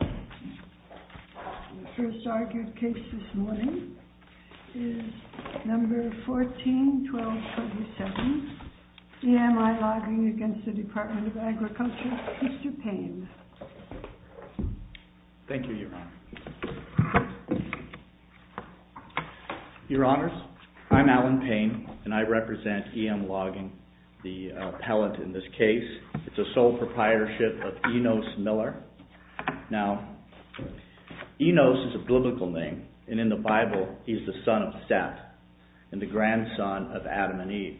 Mr. Payne. Thank you, Your Honor. Your Honors, I'm Alan Payne, and I represent EM Logging, the appellant in this case. It's a sole proprietorship of Enos Miller. Now, Enos is a biblical name, and in the Bible, he's the son of Seth and the grandson of Adam and Eve.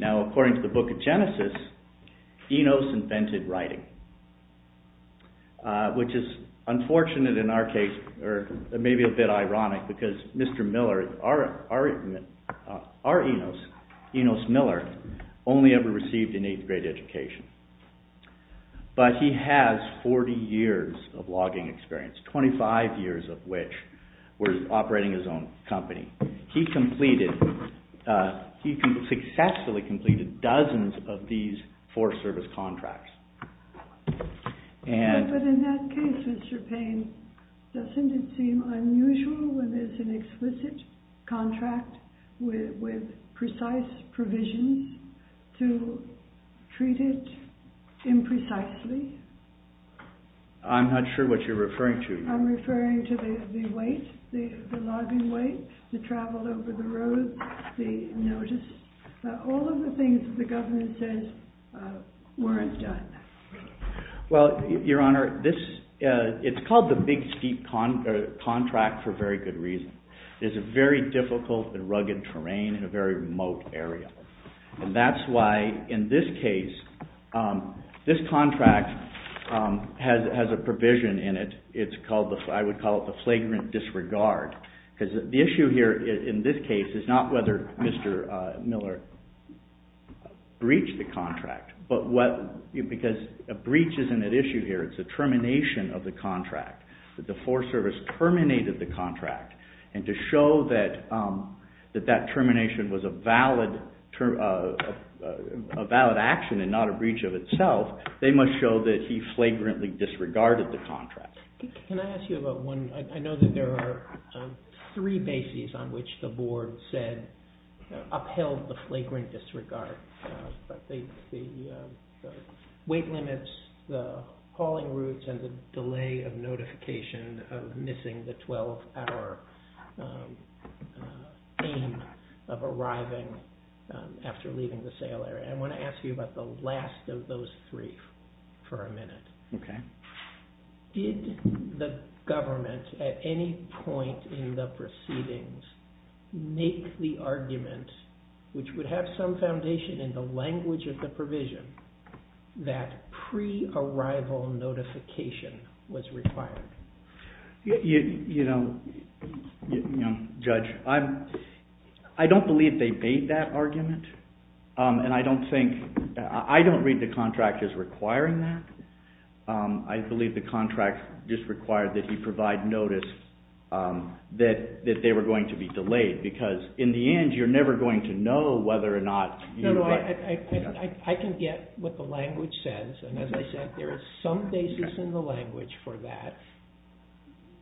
Now, according to the book of Genesis, Enos invented writing, which is unfortunate in our case, or maybe a bit ironic, because Mr. Miller, our Enos, Enos Miller, only ever received an 8th grade education. But he has 40 years of logging experience, 25 years of which was operating his own company. He successfully completed dozens of these forced service contracts. But in that case, Mr. Payne, doesn't it seem unusual when there's an explicit contract with precise provisions to treat it imprecisely? I'm not sure what you're referring to. I'm referring to the weight, the logging weight, the travel over the road, the notice, all of the things that the government says weren't done. Well, Your Honor, it's called the Big Steep Contract for very good reason. It's a very difficult and rugged terrain in a very remote area. And that's why, in this case, this contract has a provision in it. I would call it the flagrant disregard. Because the issue here, in this case, is not whether Mr. Miller breached the contract, because a breach isn't at issue here. It's a termination of the contract. The forced service terminated the contract, and to show that that termination was a valid action and not a breach of itself, they must show that he flagrantly disregarded the contract. Can I ask you about one? I know that there are three bases on which the Board said upheld the flagrant disregard. The weight limits, the hauling routes, and the delay of notification of missing the 12-hour aim of arriving after leaving the sale area. I want to ask you about the last of those three for a minute. Okay. Did the government, at any point in the proceedings, make the argument, which would have some foundation in the language of the provision, that pre-arrival notification was required? You know, Judge, I don't believe they made that argument, and I don't think, I don't read the contract as requiring that. I believe the contract just required that he provide notice that they were going to be delayed, because in the end, you're never going to know whether or not… I can get what the language says, and as I said, there is some basis in the language for that.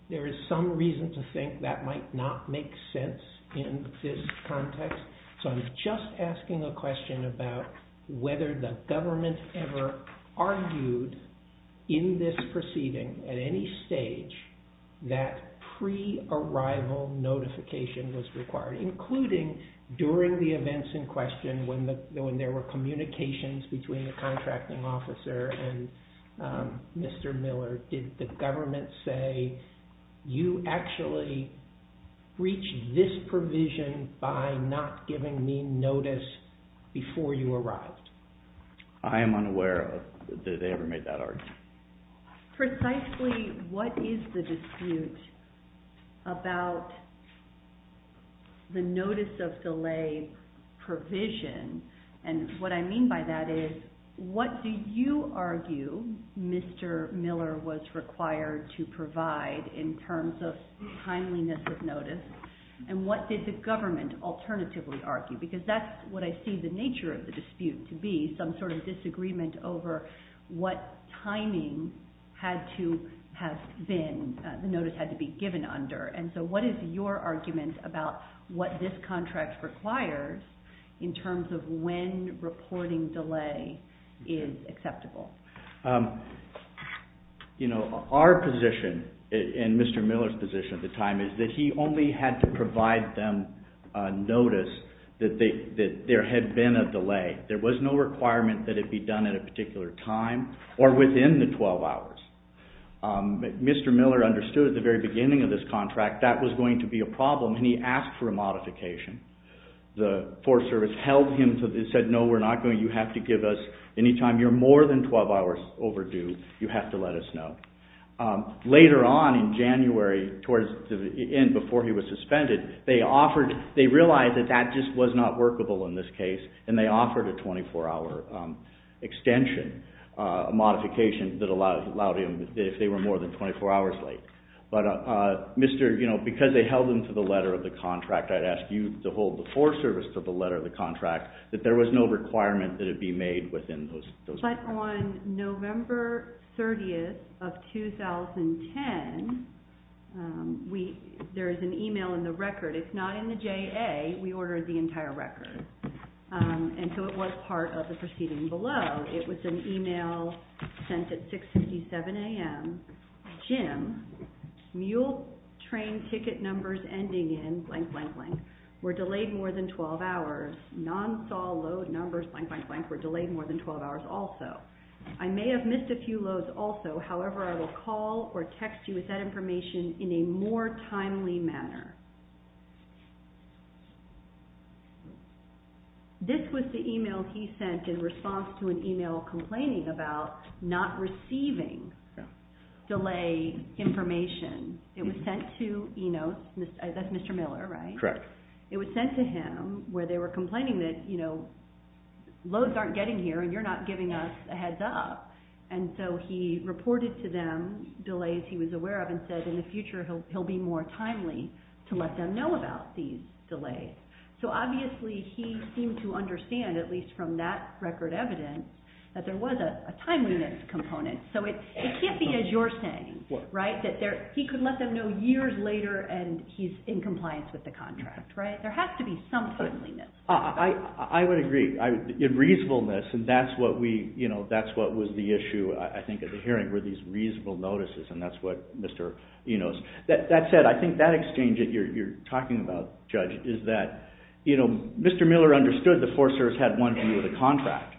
There is some reason to think that might not make sense in this context. So I'm just asking a question about whether the government ever argued in this proceeding, at any stage, that pre-arrival notification was required, including during the events in question when there were communications between the contracting officer and Mr. Miller. Did the government say, you actually breached this provision by not giving me notice before you arrived? I am unaware that they ever made that argument. Precisely, what is the dispute about the notice of delay provision? And what I mean by that is, what do you argue Mr. Miller was required to provide in terms of timeliness of notice? And what did the government alternatively argue? Because that's what I see the nature of the dispute to be, some sort of disagreement over what timing the notice had to be given under. And so what is your argument about what this contract requires in terms of when reporting delay is acceptable? Our position, and Mr. Miller's position at the time, is that he only had to provide them notice that there had been a delay. There was no requirement that it be done at a particular time or within the 12 hours. Mr. Miller understood at the very beginning of this contract that was going to be a problem and he asked for a modification. The Forest Service held him to this, said no we're not going, you have to give us, any time you're more than 12 hours overdue, you have to let us know. Later on in January, towards the end, before he was suspended, they realized that that just was not workable in this case, and they offered a 24 hour extension, a modification that allowed him, if they were more than 24 hours late. But Mr., because they held him to the letter of the contract, I'd ask you to hold the Forest Service to the letter of the contract, that there was no requirement that it be made within those 12 hours. But on November 30th of 2010, there is an email in the record, it's not in the JA, we ordered the entire record. And so it was part of the proceeding below. It was an email sent at 6.57 AM, Jim, mule train ticket numbers ending in blank, blank, blank, were delayed more than 12 hours. Non-SAW load numbers blank, blank, blank, were delayed more than 12 hours also. I may have missed a few loads also, however I will call or text you with that information in a more timely manner. This was the email he sent in response to an email complaining about not receiving delay information. It was sent to, you know, that's Mr. Miller, right? Correct. It was sent to him where they were complaining that, you know, loads aren't getting here and you're not giving us a heads up. And so he reported to them delays he was aware of and said in the future he'll be more timely to let them know about these delays. So obviously he seemed to understand, at least from that record evidence, that there was a timeliness component. So it can't be as you're saying, right, that he could let them know years later and he's in compliance with the contract, right? There has to be some timeliness. I would agree. In reasonableness, and that's what we, you know, that's what was the issue, I think, at the hearing were these reasonable notices and that's what Mr. Enos. That said, I think that exchange that you're talking about, Judge, is that, you know, Mr. Miller understood the foresters had one view of the contract.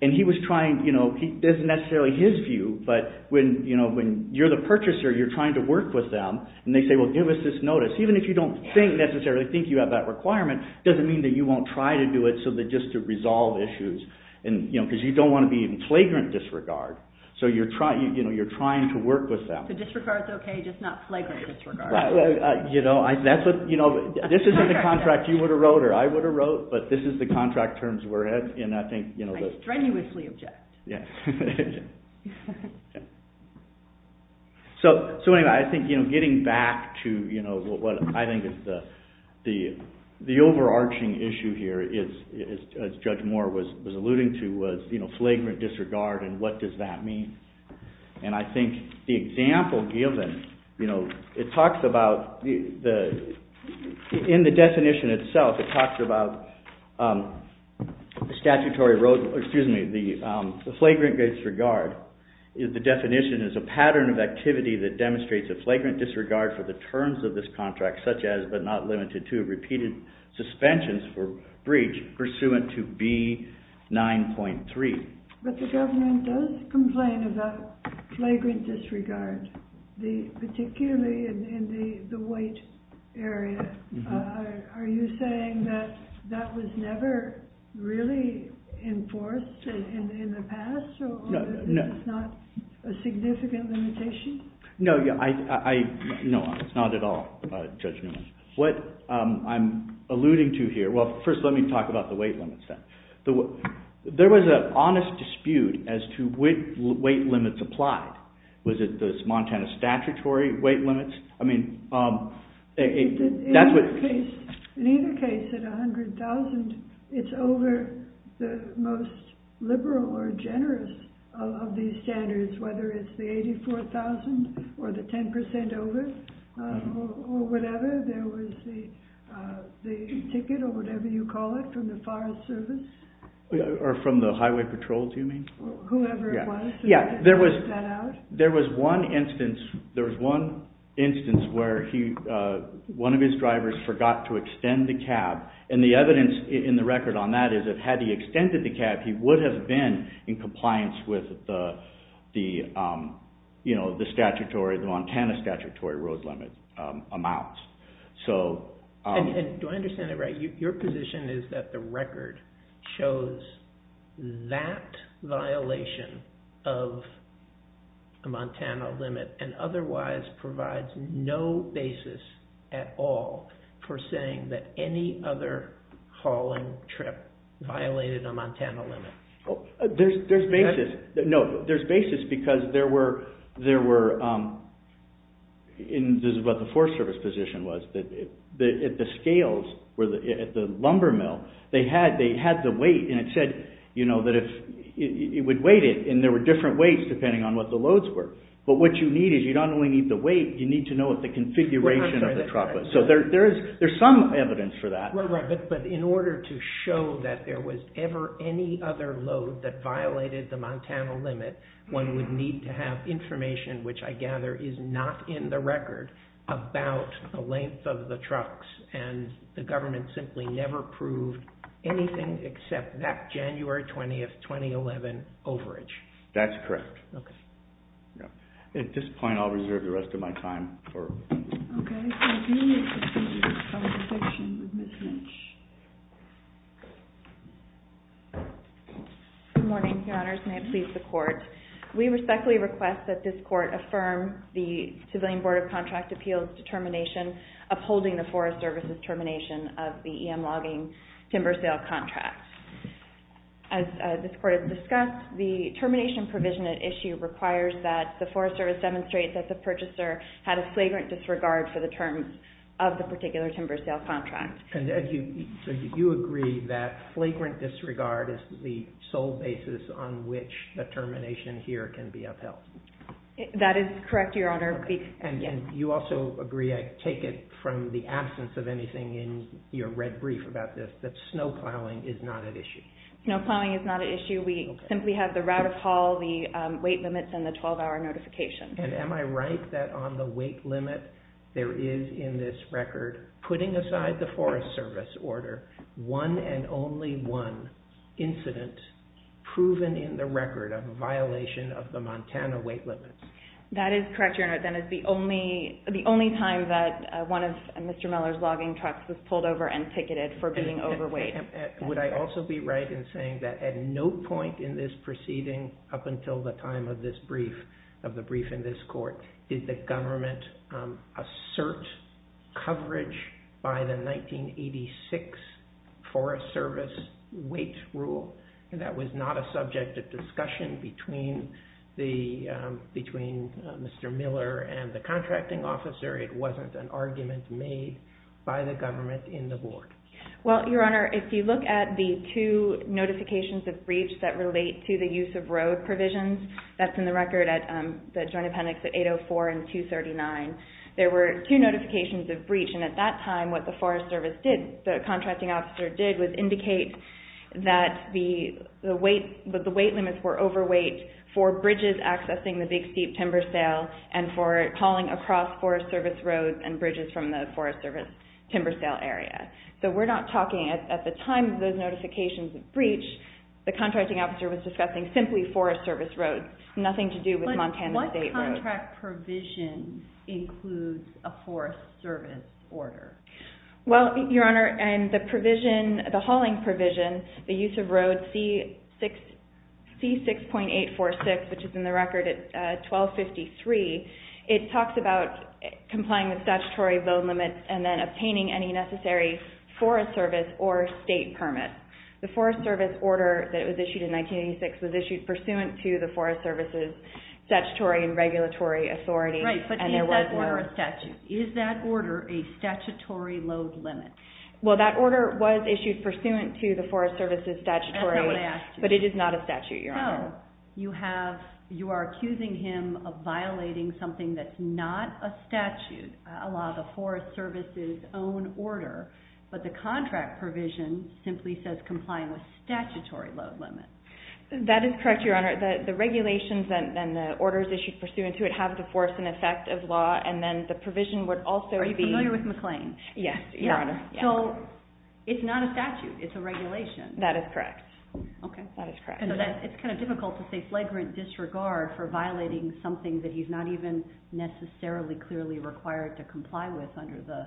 And he was trying, you know, it wasn't necessarily his view, but when, you know, when you're the purchaser, you're trying to work with them, and they say, well, give us this notice, even if you don't think, necessarily think you have that requirement, it doesn't mean that you won't try to do it so that just to resolve issues and, you know, because you don't want to be in flagrant disregard. So you're trying, you know, you're trying to work with them. So disregard is okay, just not flagrant disregard. You know, that's what, you know, this isn't the contract you would have wrote or I would have wrote, but this is the contract terms we're at, and I think, you know. I strenuously object. Yes. So, anyway, I think, you know, getting back to, you know, what I think is the overarching issue here is, as Judge Moore was alluding to, was, you know, flagrant disregard and what does that mean. And I think the example given, you know, it talks about the, in the definition itself, it talks about statutory, excuse me, the flagrant disregard. The definition is a pattern of activity that demonstrates a flagrant disregard for the terms of this contract, such as, but not limited to, repeated suspensions for breach pursuant to B9.3. But the government does complain about flagrant disregard, particularly in the wait area. Are you saying that that was never really enforced in the past or that it's not a significant limitation? No, I, no, it's not at all, Judge Newman. What I'm alluding to here, well, first let me talk about the wait limits then. There was an honest dispute as to which wait limits applied. Was it the Montana statutory wait limits? In either case, at 100,000, it's over the most liberal or generous of these standards, whether it's the 84,000 or the 10% over, or whatever, there was the ticket or whatever you call it from the Forest Service. Or from the Highway Patrol, do you mean? Whoever it was. Yeah, there was one instance where one of his drivers forgot to extend the cab. And the evidence in the record on that is that had he extended the cab, he would have been in compliance with the, you know, the Montana statutory road limit amounts. Do I understand it right? Your position is that the record shows that violation of the Montana limit and otherwise provides no basis at all for saying that any other hauling trip violated a Montana limit. There's basis. No, there's basis because there were, this is what the Forest Service position was, that the scales at the lumber mill, they had the weight and it said, you know, that it would weight it, and there were different weights depending on what the loads were. But what you need is, you don't only need the weight, you need to know what the configuration of the truck was. So there's some evidence for that. But in order to show that there was ever any other load that violated the Montana limit, one would need to have information, which I gather is not in the record, about the length of the trucks. And the government simply never proved anything except that January 20th, 2011 overage. That's correct. At this point, I'll reserve the rest of my time. Okay, we'll continue the discussion with Ms. Lynch. Good morning, Your Honors. May it please the Court. We respectfully request that this Court affirm the Civilian Board of Contract Appeals determination upholding the Forest Service's termination of the EM logging timber sale contract. As this Court has discussed, the termination provision at issue requires that the Forest Service demonstrate that the purchaser had a flagrant disregard for the terms of the particular timber sale contract. So you agree that flagrant disregard is the sole basis on which the termination here can be upheld? That is correct, Your Honor. And you also agree, I take it from the absence of anything in your red brief about this, that snow plowing is not at issue? Snow plowing is not at issue. We simply have the route of haul, the weight limits, and the 12-hour notification. And am I right that on the weight limit, there is in this record, putting aside the Forest Service order, one and only one incident proven in the record of a violation of the Montana weight limits? That is correct, Your Honor. That is the only time that one of Mr. Miller's logging trucks was pulled over and ticketed for being overweight. Would I also be right in saying that at no point in this proceeding up until the time of this brief, of the brief in this Court, did the government assert coverage by the 1986 Forest Service weight rule? That was not a subject of discussion between Mr. Miller and the contracting officer. It wasn't an argument made by the government in the Board. Well, Your Honor, if you look at the two notifications of breach that relate to the use of road provisions, that's in the record at the Joint Appendix at 804 and 239. There were two notifications of breach, and at that time, what the Forest Service did, what the contracting officer did, was indicate that the weight limits were overweight for bridges accessing the Big Steep Timber Sale and for hauling across Forest Service roads and bridges from the Forest Service Timber Sale area. So we're not talking, at the time of those notifications of breach, the contracting officer was discussing simply Forest Service roads, nothing to do with Montana State roads. The contract provision includes a Forest Service order. Well, Your Honor, and the provision, the hauling provision, the use of road C6.846, which is in the record at 1253, it talks about complying with statutory load limits and then obtaining any necessary Forest Service or state permit. Yes. The Forest Service order that was issued in 1986 was issued pursuant to the Forest Service's statutory and regulatory authority. Right, but he said order of statute. Is that order a statutory load limit? Well, that order was issued pursuant to the Forest Service's statutory, but it is not a statute, Your Honor. So, you are accusing him of violating something that's not a statute, a law of the Forest Service's own order, but the contract provision simply says complying with statutory load limits. That is correct, Your Honor. The regulations and the orders issued pursuant to it have the force and effect of law, and then the provision would also be... Are you familiar with McLean? Yes, Your Honor. So, it's not a statute, it's a regulation. That is correct. It's kind of difficult to say flagrant disregard for violating something that he's not even necessarily clearly required to comply with under the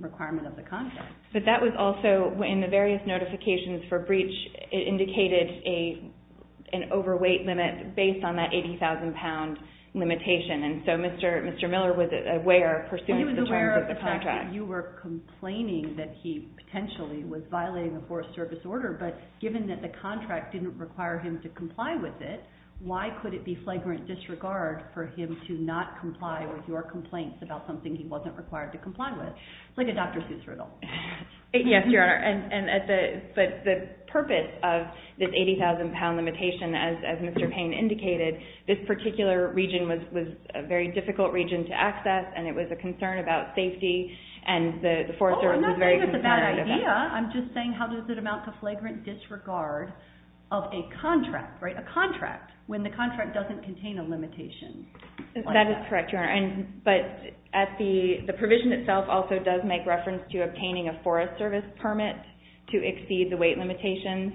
requirement of the contract. But that was also, in the various notifications for breach, it indicated an overweight limit based on that 80,000 pound limitation, and so Mr. Miller was aware pursuant to the terms of the contract. You were complaining that he potentially was violating the Forest Service order, but given that the contract didn't require him to comply with it, why could it be flagrant disregard for him to not comply with your complaints about something he wasn't required to comply with? It's like a Dr. Seuss riddle. Yes, Your Honor. But the purpose of this 80,000 pound limitation, as Mr. Payne indicated, this particular region was a very difficult region to access, and it was a concern about safety, and the Forest Service was very concerned about that. Oh, I'm not saying it's a bad idea, I'm just saying how does it amount to flagrant disregard of a contract, right? A contract, when the contract doesn't contain a limitation. That is correct, Your Honor. But the provision itself also does make reference to obtaining a Forest Service permit to exceed the weight limitations,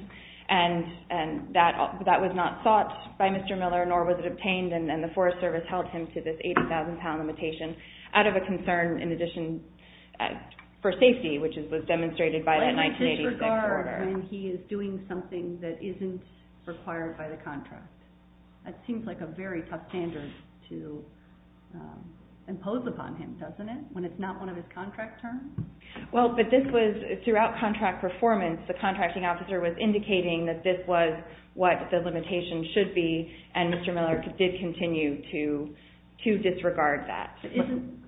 and that was not sought by Mr. Miller, nor was it obtained, and the Forest Service held him to this 80,000 pound limitation out of a concern, in addition, for safety, which was demonstrated by that 1986 order. He is doing something that isn't required by the contract. That seems like a very tough standard to impose upon him, doesn't it, when it's not one of his contract terms? Well, but this was, throughout contract performance, the contracting officer was indicating that this was what the limitation should be, and Mr. Miller did continue to disregard that.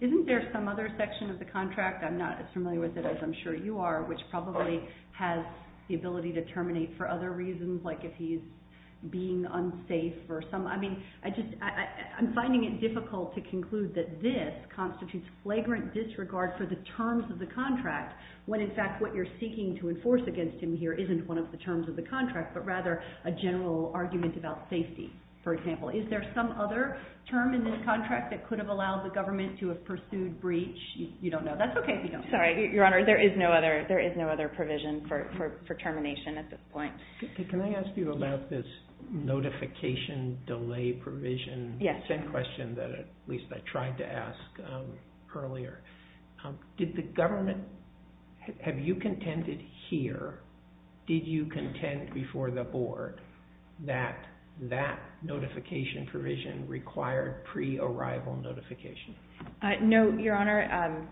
Isn't there some other section of the contract? I'm not as familiar with it as I'm sure you are, which probably has the ability to terminate for other reasons, like if he's being unsafe or something. I mean, I just, I'm finding it difficult to conclude that this constitutes flagrant disregard for the terms of the contract, when in fact what you're seeking to enforce against him here isn't one of the terms of the contract, but rather a general argument about safety, for example. Is there some other term in this contract that could have allowed the government to have pursued breach? You don't know. That's okay if you don't know. Sorry, Your Honor, there is no other provision for termination at this point. Can I ask you about this notification delay provision? Yes. That's a question that at least I tried to ask earlier. Did the government, have you contended here, did you contend before the board that that notification provision required pre-arrival notification? No, Your Honor.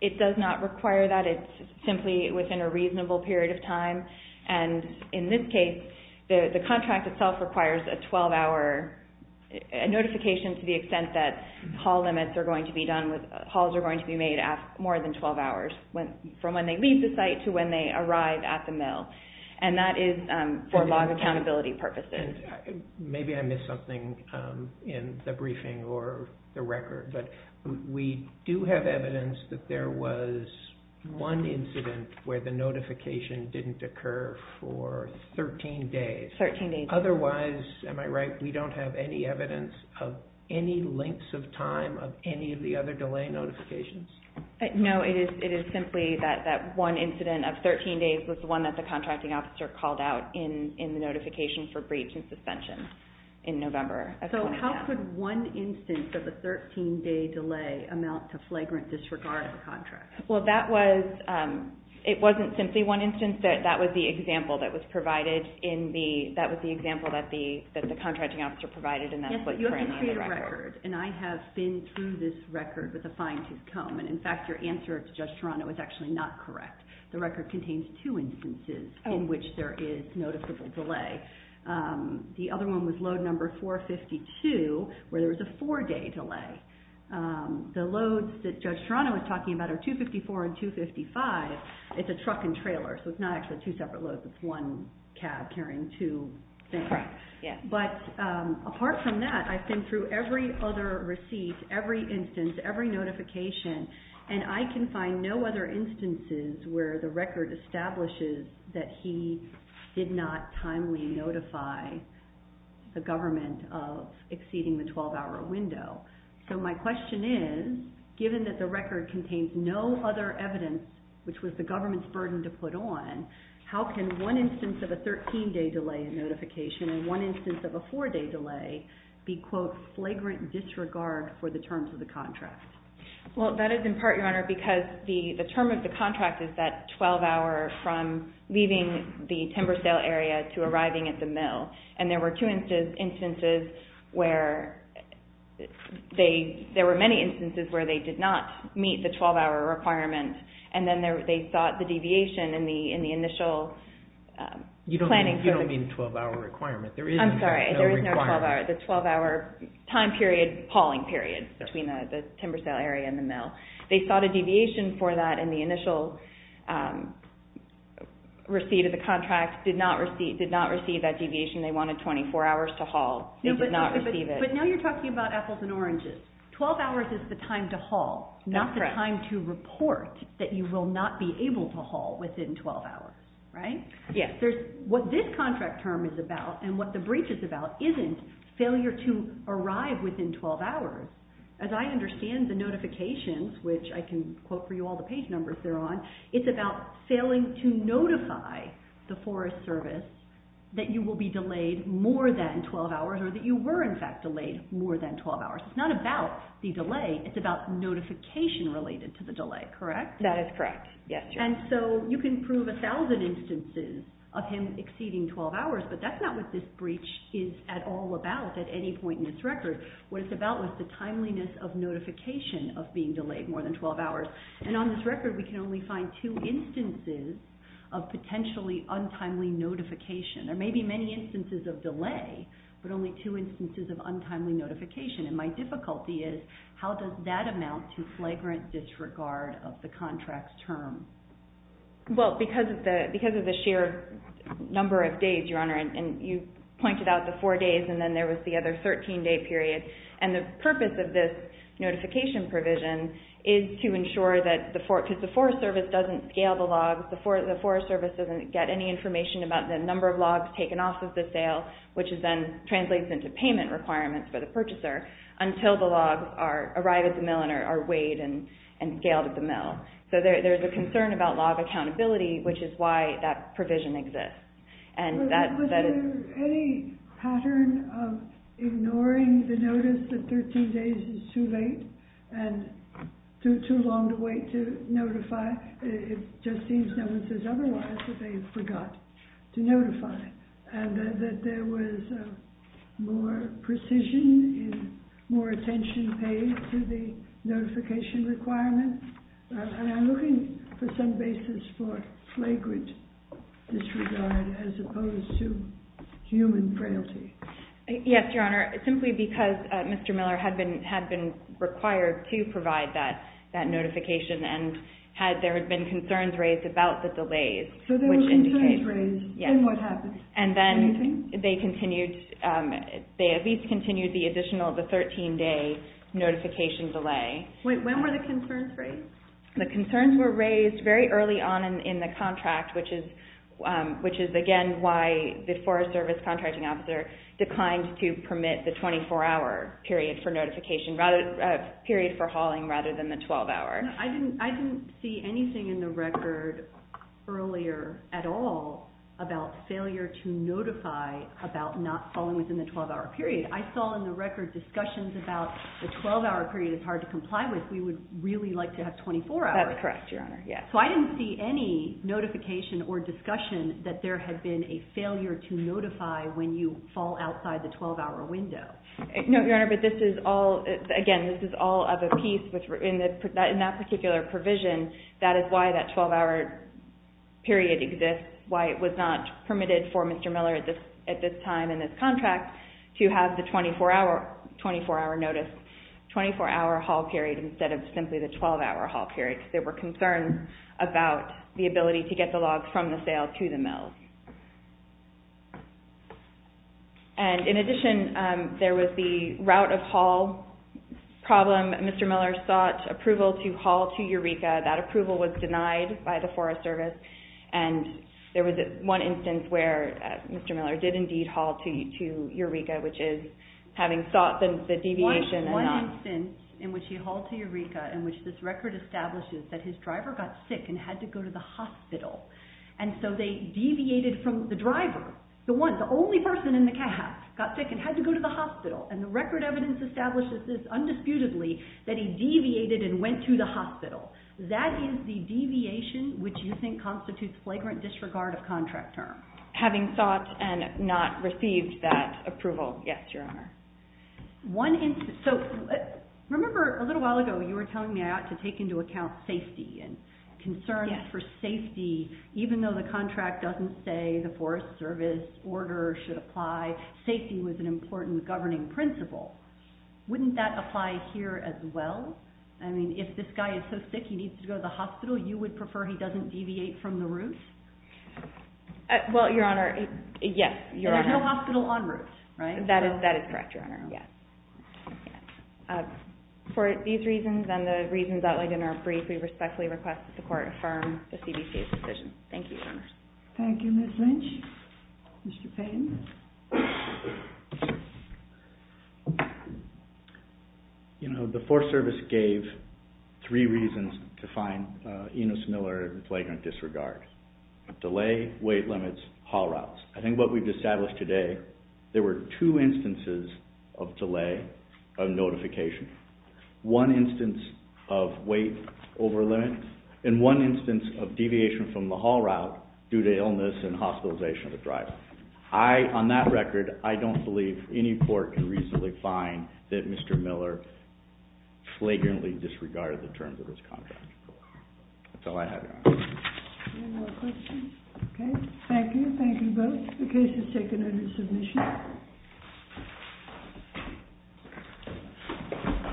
It does not require that. It's simply within a reasonable period of time, and in this case, the contract itself requires a 12-hour notification to the extent that hall limits are going to be done with, halls are going to be made at more than 12 hours, from when they leave the site to when they arrive at the mill, and that is for log accountability purposes. And maybe I missed something in the briefing or the record, but we do have evidence that there was one incident where the notification didn't occur for 13 days. 13 days. Otherwise, am I right, we don't have any evidence of any lengths of time of any of the other delay notifications? No, it is simply that that one incident of 13 days was the one that the contracting officer called out in the notification for briefs and suspension in November. So how could one instance of a 13-day delay amount to flagrant disregard of the contract? Well, that was, it wasn't simply one instance, that was the example that was provided in the, that was the example that the contracting officer provided, and that's what's currently on the record. And I have been through this record with a fine-tooth comb, and in fact, your answer to Judge Toronto is actually not correct. The record contains two instances in which there is noticeable delay. The other one was load number 452, where there was a four-day delay. The loads that Judge Toronto was talking about are 254 and 255. It's a truck and trailer, so it's not actually two separate loads, it's one cab carrying two things. But apart from that, I've been through every other receipt, every instance, every notification, and I can find no other instances where the record establishes that he did not timely notify the government of exceeding the 12-hour window. So my question is, given that the record contains no other evidence, which was the government's burden to put on, how can one instance of a 13-day delay in notification and one instance of a four-day delay be, quote, flagrant disregard for the terms of the contract? Well, that is in part, Your Honor, because the term of the contract is that 12-hour from leaving the timber sale area to arriving at the mill. And there were two instances where they – there were many instances where they did not meet the 12-hour requirement, and then they sought the deviation in the initial planning. You don't mean 12-hour requirement. I'm sorry. The 12-hour time period hauling period between the timber sale area and the mill. They sought a deviation for that in the initial receipt of the contract, did not receive that deviation. They wanted 24 hours to haul. They did not receive it. But now you're talking about apples and oranges. 12 hours is the time to haul, not the time to report that you will not be able to haul within 12 hours, right? Yes. What this contract term is about and what the breach is about isn't failure to arrive within 12 hours. As I understand the notifications, which I can quote for you all the page numbers they're on, it's about failing to notify the Forest Service that you will be delayed more than 12 hours or that you were, in fact, delayed more than 12 hours. It's not about the delay. It's about notification related to the delay, correct? That is correct. Yes, Your Honor. And so you can prove 1,000 instances of him exceeding 12 hours, but that's not what this breach is at all about at any point in this record. What it's about was the timeliness of notification of being delayed more than 12 hours. And on this record, we can only find two instances of potentially untimely notification. There may be many instances of delay, but only two instances of untimely notification. And my difficulty is how does that amount to flagrant disregard of the contract's term? Well, because of the sheer number of days, Your Honor, and you pointed out the four days and then there was the other 13-day period. And the purpose of this notification provision is to ensure that, because the Forest Service doesn't scale the logs, the Forest Service doesn't get any information about the number of logs taken off of the sale, which then translates into payment requirements for the purchaser, until the logs arrive at the mill and are weighed and scaled at the mill. So there's a concern about log accountability, which is why that provision exists. Was there any pattern of ignoring the notice that 13 days is too late and too long to wait to notify? It just seems, no one says otherwise, that they forgot to notify and that there was more precision and more attention paid to the notification requirement. I'm looking for some basis for flagrant disregard as opposed to human frailty. Yes, Your Honor, simply because Mr. Miller had been required to provide that notification and there had been concerns raised about the delays. So there were concerns raised in what happened? And then they at least continued the additional 13-day notification delay. When were the concerns raised? The concerns were raised very early on in the contract, which is again why the Forest Service contracting officer declined to permit the 24-hour period for notification, period for hauling rather than the 12-hour. I didn't see anything in the record earlier at all about failure to notify about not falling within the 12-hour period. I saw in the record discussions about the 12-hour period is hard to comply with. We would really like to have 24 hours. That's correct, Your Honor. So I didn't see any notification or discussion that there had been a failure to notify when you fall outside the 12-hour window. No, Your Honor, but this is all, again, this is all of a piece in that particular provision. That is why that 12-hour period exists, why it was not permitted for Mr. Miller at this time in this contract to have the 24-hour notice, 24-hour haul period instead of simply the 12-hour haul period. There were concerns about the ability to get the logs from the sale to the mill. In addition, there was the route of haul problem. Mr. Miller sought approval to haul to Eureka. That approval was denied by the Forest Service, and there was one instance where Mr. Miller did indeed haul to Eureka, which is having sought the deviation. One instance in which he hauled to Eureka in which this record establishes that his driver got sick and had to go to the hospital. And so they deviated from the driver, the one, the only person in the cab got sick and had to go to the hospital. And the record evidence establishes this undisputedly that he deviated and went to the hospital. That is the deviation which you think constitutes flagrant disregard of contract term. Having sought and not received that approval, yes, Your Honor. One instance, so remember a little while ago you were telling me I ought to take into account safety and concerns for safety. Even though the contract doesn't say the Forest Service order should apply, safety was an important governing principle. Wouldn't that apply here as well? I mean, if this guy is so sick he needs to go to the hospital, you would prefer he doesn't deviate from the route? Well, Your Honor, yes, Your Honor. There's no hospital on route, right? That is correct, Your Honor, yes. For these reasons and the reasons outlined in our brief, we respectfully request that the Court affirm the CBCA's decision. Thank you, Your Honor. Thank you, Ms. Lynch. Mr. Payne. You know, the Forest Service gave three reasons to find Enos Miller flagrant disregard. Delay, wait limits, haul routes. I think what we've established today, there were two instances of delay of notification. One instance of wait over limit and one instance of deviation from the haul route due to illness and hospitalization of the driver. I, on that record, I don't believe any court can reasonably find that Mr. Miller flagrantly disregarded the terms of his contract. That's all I have, Your Honor. Any more questions? Okay. Thank you. Thank you both. The case has taken early submission.